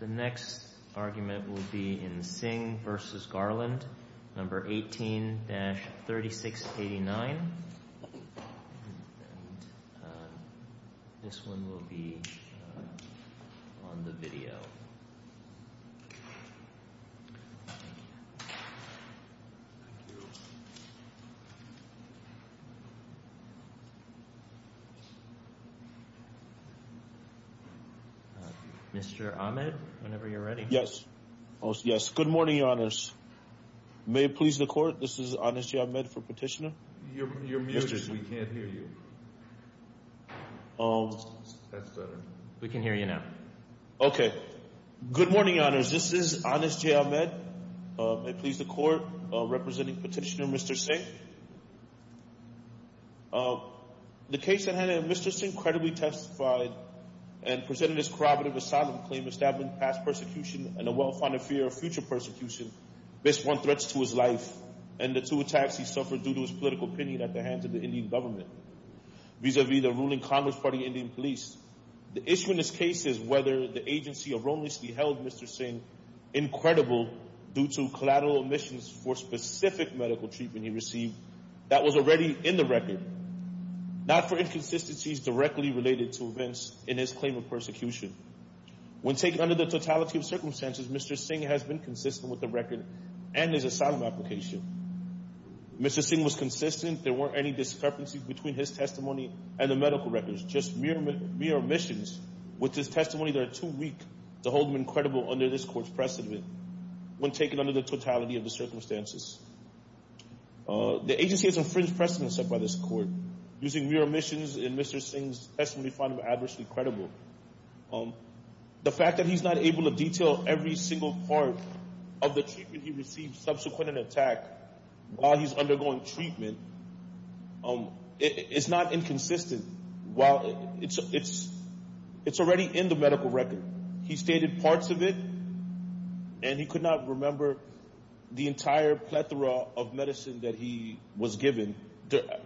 The next argument will be in Singh v. Garland, No. 18-3689. This one will be on the video. Mr. Ahmed, whenever you're ready. Yes. Good morning, Your Honors. May it please the Court, this is Anas J. Ahmed for Petitioner. You're muted. We can't hear you. That's better. We can hear you now. Okay. Good morning, Your Honors. This is Anas J. Ahmed. May it please the Court, representing Petitioner Mr. Singh. The case in which Mr. Singh credibly testified and presented his corroborative asylum claim, establishing past persecution and a well-founded fear of future persecution based on threats to his life and the two attacks he suffered due to his political opinion at the hands of the Indian government vis-à-vis the ruling Congress Party Indian police. The issue in this case is whether the agency of wrongly held Mr. Singh incredible due to collateral omissions for specific medical treatment he received that was already in the record, not for inconsistencies directly related to events in his claim of persecution. When taken under the totality of circumstances, Mr. Singh has been consistent with the record and his asylum application. Mr. Singh was consistent. There weren't any discrepancies between his testimony and the medical records, just mere omissions, which is testimony that are too weak to hold him incredible under this Court's precedent when taken under the totality of the circumstances. The agency has infringed precedents set by this Court. Using mere omissions in Mr. Singh's testimony, we find him adversely credible. The fact that he's not able to detail every single part of the treatment he received subsequent to the attack while he's undergoing treatment is not inconsistent. It's already in the medical record. He stated parts of it, and he could not remember the entire plethora of medicine that he was given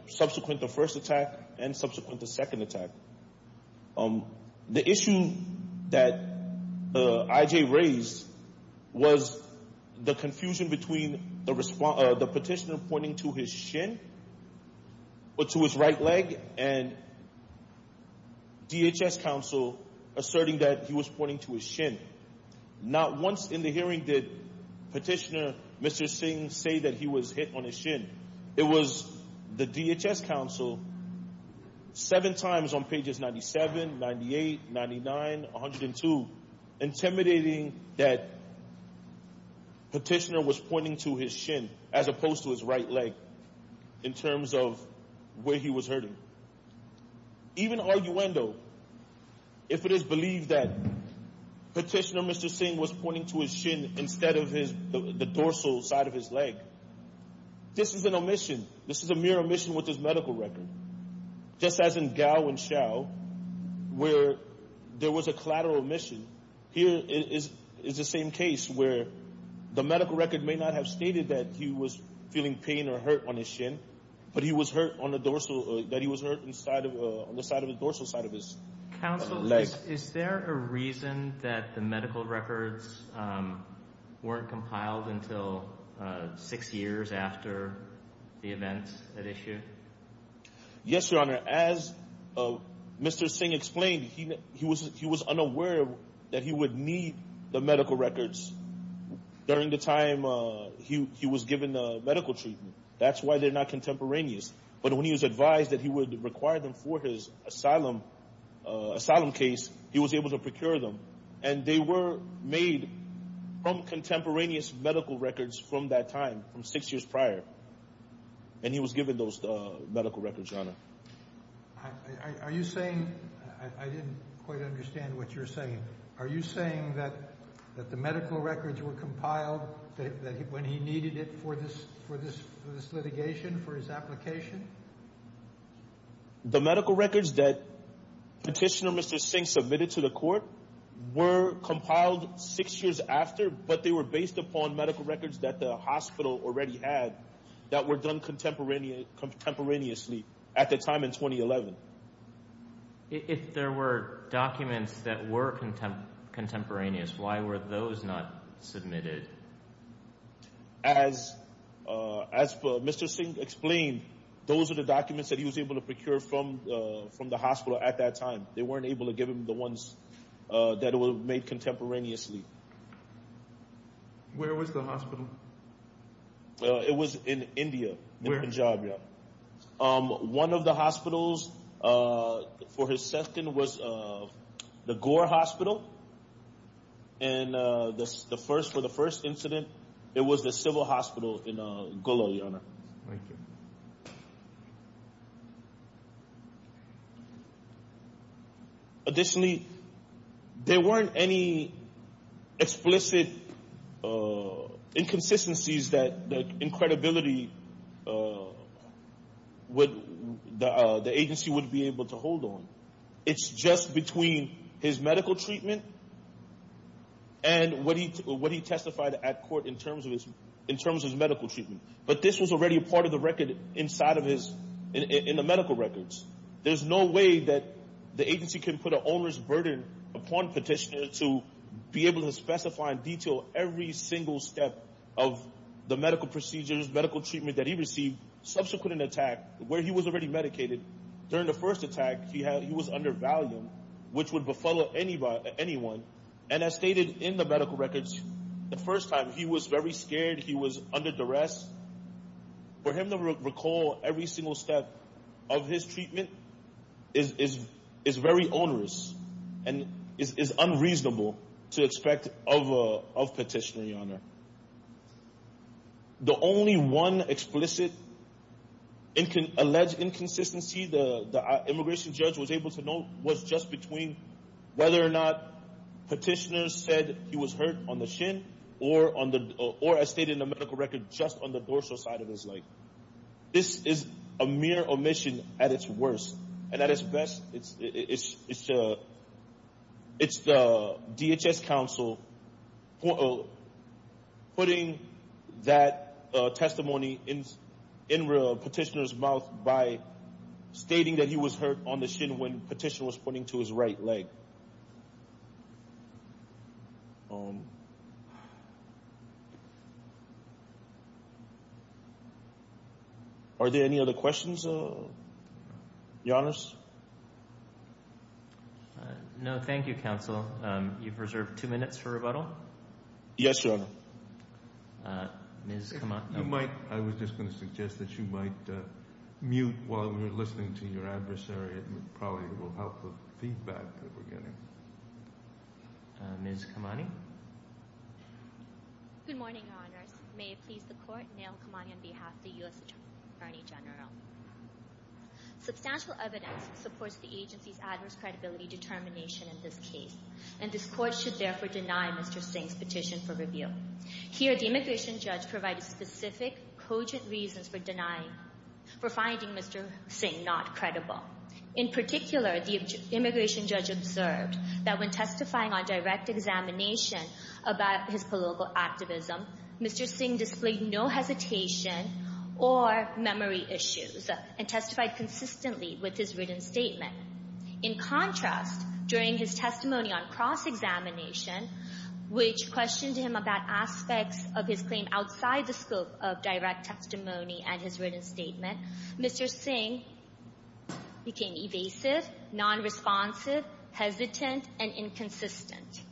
subsequent to the first attack and subsequent to the second attack. The issue that I.J. raised was the confusion between the petitioner pointing to his shin or to his right leg and DHS counsel asserting that he was pointing to his shin. Not once in the hearing did Petitioner Mr. Singh say that he was hit on his shin. It was the DHS counsel seven times on pages 97, 98, 99, 102, intimidating that Petitioner was pointing to his shin as opposed to his right leg in terms of where he was hurting. Even arguendo, if it is believed that Petitioner Mr. Singh was pointing to his shin instead of the dorsal side of his leg, this is an omission. This is a mere omission with his medical record. Just as in Gao and Xiao where there was a collateral omission, here is the same case where the medical record may not have stated that he was feeling pain or hurt on his shin, but he was hurt on the dorsal side of his leg. Counsel, is there a reason that the medical records weren't compiled until six years after the events at issue? Yes, Your Honor. As Mr. Singh explained, he was unaware that he would need the medical records during the time he was given medical treatment. That's why they're not contemporaneous. But when he was advised that he would require them for his asylum case, he was able to procure them, and they were made from contemporaneous medical records from that time, from six years prior, and he was given those medical records, Your Honor. Are you saying – I didn't quite understand what you're saying. Are you saying that the medical records were compiled when he needed it for this litigation, for his application? The medical records that Petitioner Mr. Singh submitted to the court were compiled six years after, but they were based upon medical records that the hospital already had that were done contemporaneously at the time in 2011. If there were documents that were contemporaneous, why were those not submitted? As Mr. Singh explained, those are the documents that he was able to procure from the hospital at that time. They weren't able to give him the ones that were made contemporaneously. Where was the hospital? It was in India, in Punjab, Your Honor. One of the hospitals for his sentence was the Gore Hospital, and for the first incident, it was the civil hospital in Golo, Your Honor. Thank you. Additionally, there weren't any explicit inconsistencies that the agency wouldn't be able to hold on. It's just between his medical treatment and what he testified at court in terms of his medical treatment. But this was already a part of the record inside of his – in the medical records. There's no way that the agency can put an owner's burden upon Petitioner to be able to specify in detail every single step of the medical procedures, medical treatment that he received subsequent to the attack where he was already medicated. During the first attack, he was under Valium, which would befuddle anyone. And as stated in the medical records, the first time, he was very scared. He was under duress. For him to recall every single step of his treatment is very onerous and is unreasonable to expect of Petitioner, Your Honor. The only one explicit alleged inconsistency the immigration judge was able to note was just between whether or not Petitioner said he was hurt on the shin or, as stated in the medical record, just on the dorsal side of his leg. This is a mere omission at its worst. And at its best, it's the DHS counsel putting that testimony in Petitioner's mouth by stating that he was hurt on the shin when Petitioner was pointing to his right leg. Are there any other questions, Your Honors? No, thank you, Counsel. You've reserved two minutes for rebuttal. Yes, Your Honor. Ms. Kamani? I was just going to suggest that you might mute while we were listening to your adversary. It probably will help with feedback that we're getting. Ms. Kamani? Good morning, Your Honors. May it please the Court, Neil Kamani on behalf of the U.S. Attorney General. Substantial evidence supports the agency's adverse credibility determination in this case, and this Court should therefore deny Mr. Singh's petition for review. Here, the immigration judge provided specific, cogent reasons for denying – for finding Mr. Singh not credible. In particular, the immigration judge observed that when testifying on direct examination about his political activism, Mr. Singh displayed no hesitation or memory issues and testified consistently with his written statement. In contrast, during his testimony on cross-examination, which questioned him about aspects of his claim outside the scope of direct testimony and his written statement, Mr. Singh became evasive, nonresponsive, hesitant, and inconsistent.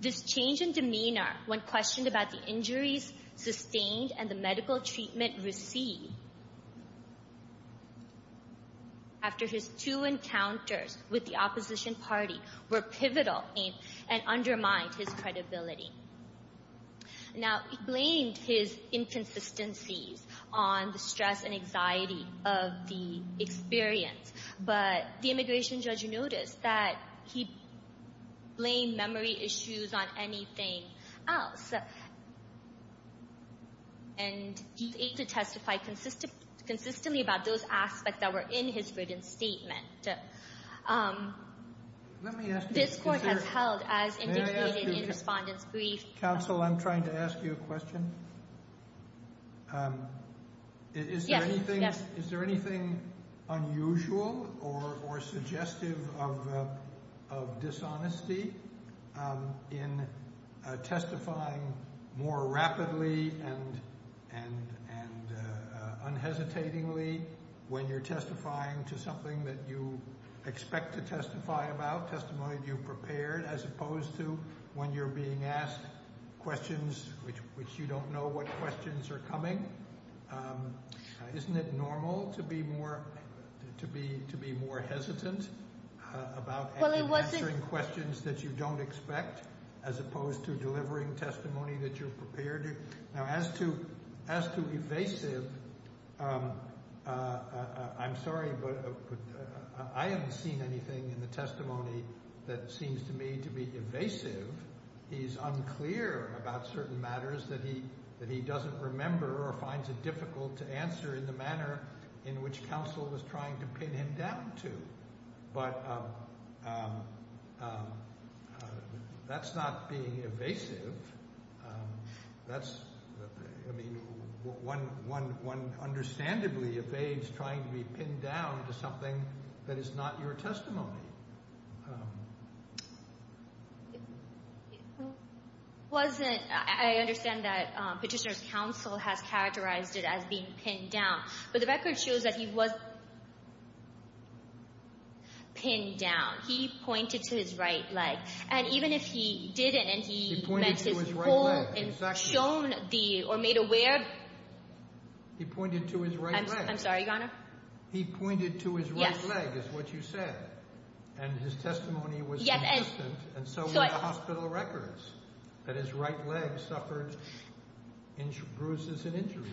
This change in demeanor when questioned about the injuries sustained and the medical treatment received after his two encounters with the opposition party were pivotal and undermined his credibility. Now, he blamed his inconsistencies on the stress and anxiety of the experience, but the immigration judge noticed that he blamed memory issues on anything else, and he ate to testify consistently about those aspects that were in his written statement. This Court has held, as indicated in Respondent's brief, Counsel, I'm trying to ask you a question. Is there anything unusual or suggestive of dishonesty in testifying more rapidly and unhesitatingly when you're testifying to something that you expect to testify about, a testimony that you've prepared, as opposed to when you're being asked questions which you don't know what questions are coming? Isn't it normal to be more hesitant about answering questions that you don't expect as opposed to delivering testimony that you've prepared? Now, as to evasive, I'm sorry, but I haven't seen anything in the testimony that seems to me to be evasive. He's unclear about certain matters that he doesn't remember or finds it difficult to answer in the manner in which counsel was trying to pin him down to. But that's not being evasive. That's, I mean, one understandably evades trying to be pinned down to something that is not your testimony. It wasn't, I understand that Petitioner's counsel has characterized it as being pinned down, but the record shows that he was pinned down. He pointed to his right leg. And even if he didn't and he meant his whole – He pointed to his right leg, exactly. – and shown the, or made aware – He pointed to his right leg. I'm sorry, Your Honor. He pointed to his right leg is what you said. And his testimony was inconsistent, and so were the hospital records, that his right leg suffered bruises and injuries.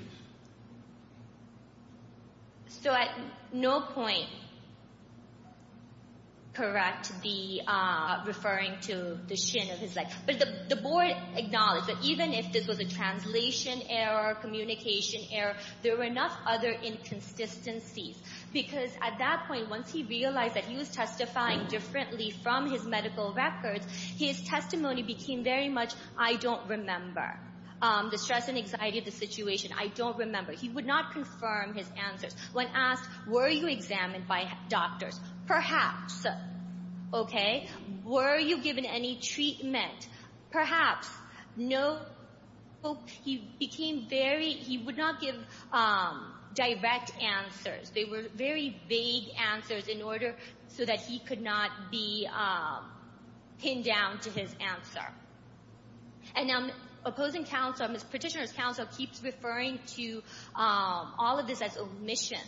So at no point correct the referring to the shin of his leg. But the board acknowledged that even if this was a translation error, communication error, there were enough other inconsistencies, because at that point, once he realized that he was testifying differently from his medical records, his testimony became very much, I don't remember. The stress and anxiety of the situation, I don't remember. He would not confirm his answers. When asked, were you examined by doctors? Perhaps. Okay. Were you given any treatment? Perhaps. No. He became very – he would not give direct answers. They were very vague answers in order so that he could not be pinned down to his answer. And now, opposing counsel, petitioner's counsel keeps referring to all of this as omissions.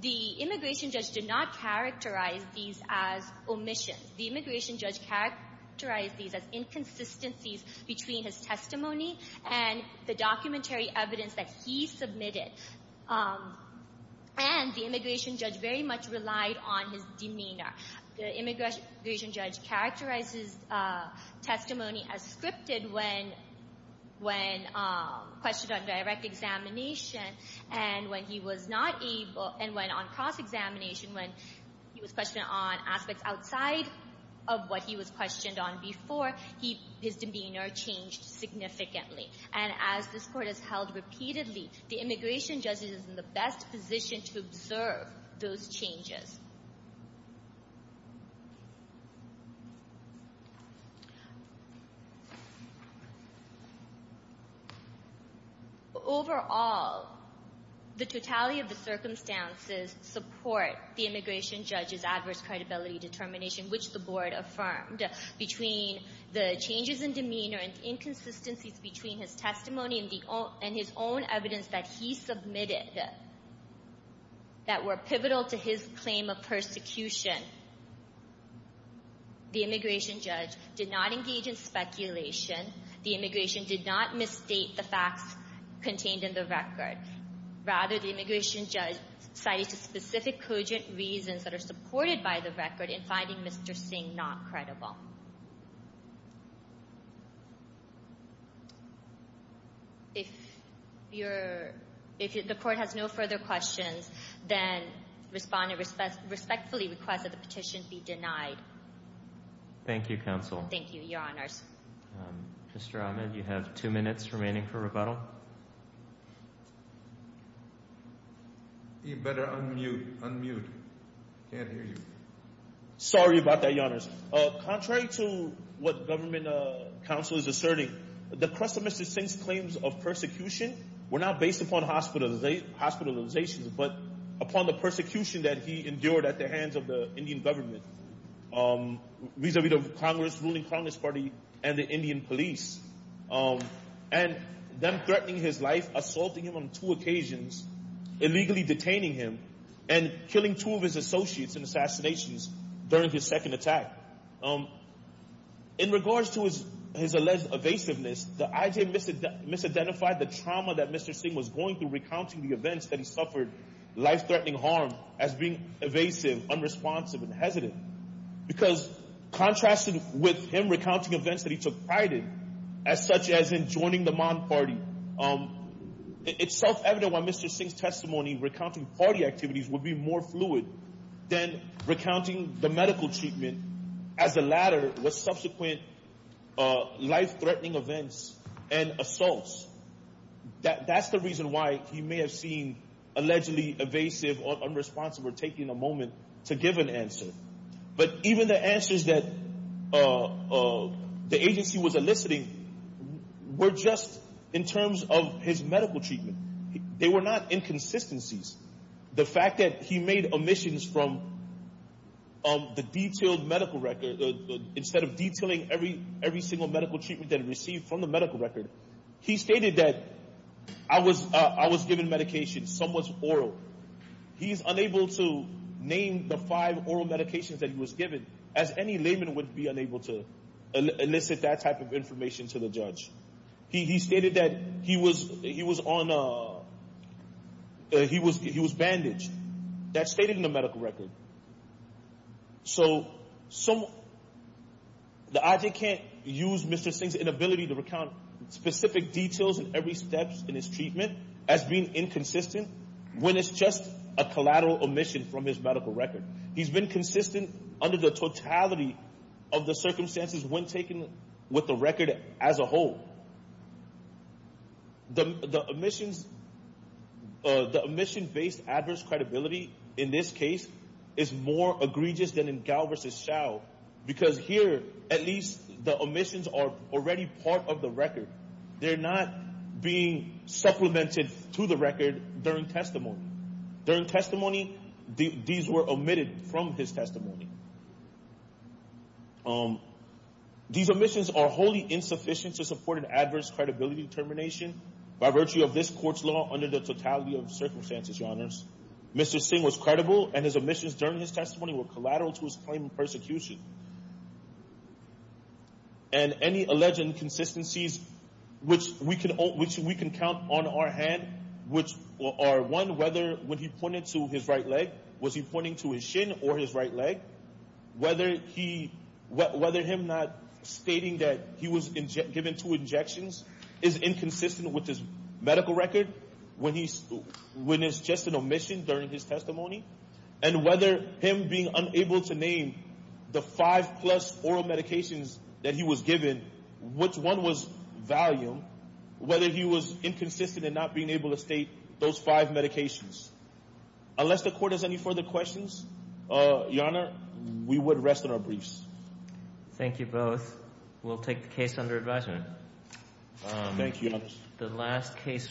The immigration judge did not characterize these as omissions. The immigration judge characterized these as inconsistencies between his testimony and the documentary evidence that he submitted. And the immigration judge very much relied on his demeanor. The immigration judge characterized his testimony as scripted when questioned on direct examination and when he was not able – and when on cross-examination, when he was questioned on aspects outside of what he was questioned on before, his demeanor changed significantly. And as this Court has held repeatedly, the immigration judge is in the best position to observe those changes. Overall, the totality of the circumstances support the immigration judge's adverse credibility determination, which the Board affirmed, between the changes in demeanor and inconsistencies between his testimony and his own evidence that he submitted that were pivotal to his claim of persecution. The immigration judge did not engage in speculation. The immigration did not misstate the facts contained in the record. Rather, the immigration judge cited specific cogent reasons that are supported by the record in finding Mr. Singh not credible. If the Court has no further questions, then respond and respectfully request that the petition be denied. Thank you, Counsel. Thank you, Your Honors. Mr. Ahmed, you have two minutes remaining for rebuttal. You better unmute. Unmute. Can't hear you. Sorry about that, Your Honors. Contrary to what Government Counsel is asserting, the crux of Mr. Singh's claims of persecution were not based upon hospitalizations but upon the persecution that he endured at the hands of the Indian government. Vis-a-vis the ruling Congress Party and the Indian police. And them threatening his life, assaulting him on two occasions, illegally detaining him, and killing two of his associates in assassinations during his second attack. In regards to his alleged evasiveness, the IJ misidentified the trauma that Mr. Singh was going through in recounting the events that he suffered life-threatening harm as being evasive, unresponsive, and hesitant. Because contrasted with him recounting events that he took pride in, as such as in joining the Mon Party, it's self-evident why Mr. Singh's testimony recounting party activities would be more fluid than recounting the medical treatment as the latter with subsequent life-threatening events and assaults. That's the reason why he may have seemed allegedly evasive or unresponsive or taking a moment to give an answer. But even the answers that the agency was eliciting were just in terms of his medical treatment. They were not inconsistencies. The fact that he made omissions from the detailed medical record, instead of detailing every single medical treatment that he received from the medical record, he stated that I was given medication somewhat oral. He is unable to name the five oral medications that he was given, as any layman would be unable to elicit that type of information to the judge. He stated that he was bandaged. That's stated in the medical record. So the IG can't use Mr. Singh's inability to recount specific details in every step in his treatment as being inconsistent when it's just a collateral omission from his medical record. He's been consistent under the totality of the circumstances when taken with the record as a whole. The omission-based adverse credibility in this case is more egregious than in Gao v. Shao because here at least the omissions are already part of the record. They're not being supplemented to the record during testimony. During testimony, these were omitted from his testimony. These omissions are wholly insufficient to support an adverse credibility determination by virtue of this court's law under the totality of circumstances, Your Honors. Mr. Singh was credible, and his omissions during his testimony were collateral to his claim of persecution. And any alleged inconsistencies, which we can count on our hand, which are, one, whether when he pointed to his right leg, was he pointing to his shin or his right leg, whether him not stating that he was given two injections is inconsistent with his medical record when it's just an omission during his testimony, and whether him being unable to name the five-plus oral medications that he was given, which one was value, whether he was inconsistent in not being able to state those five medications. Unless the Court has any further questions, Your Honor, we would rest on our briefs. Thank you both. We'll take the case under advisement. Thank you, Your Honor.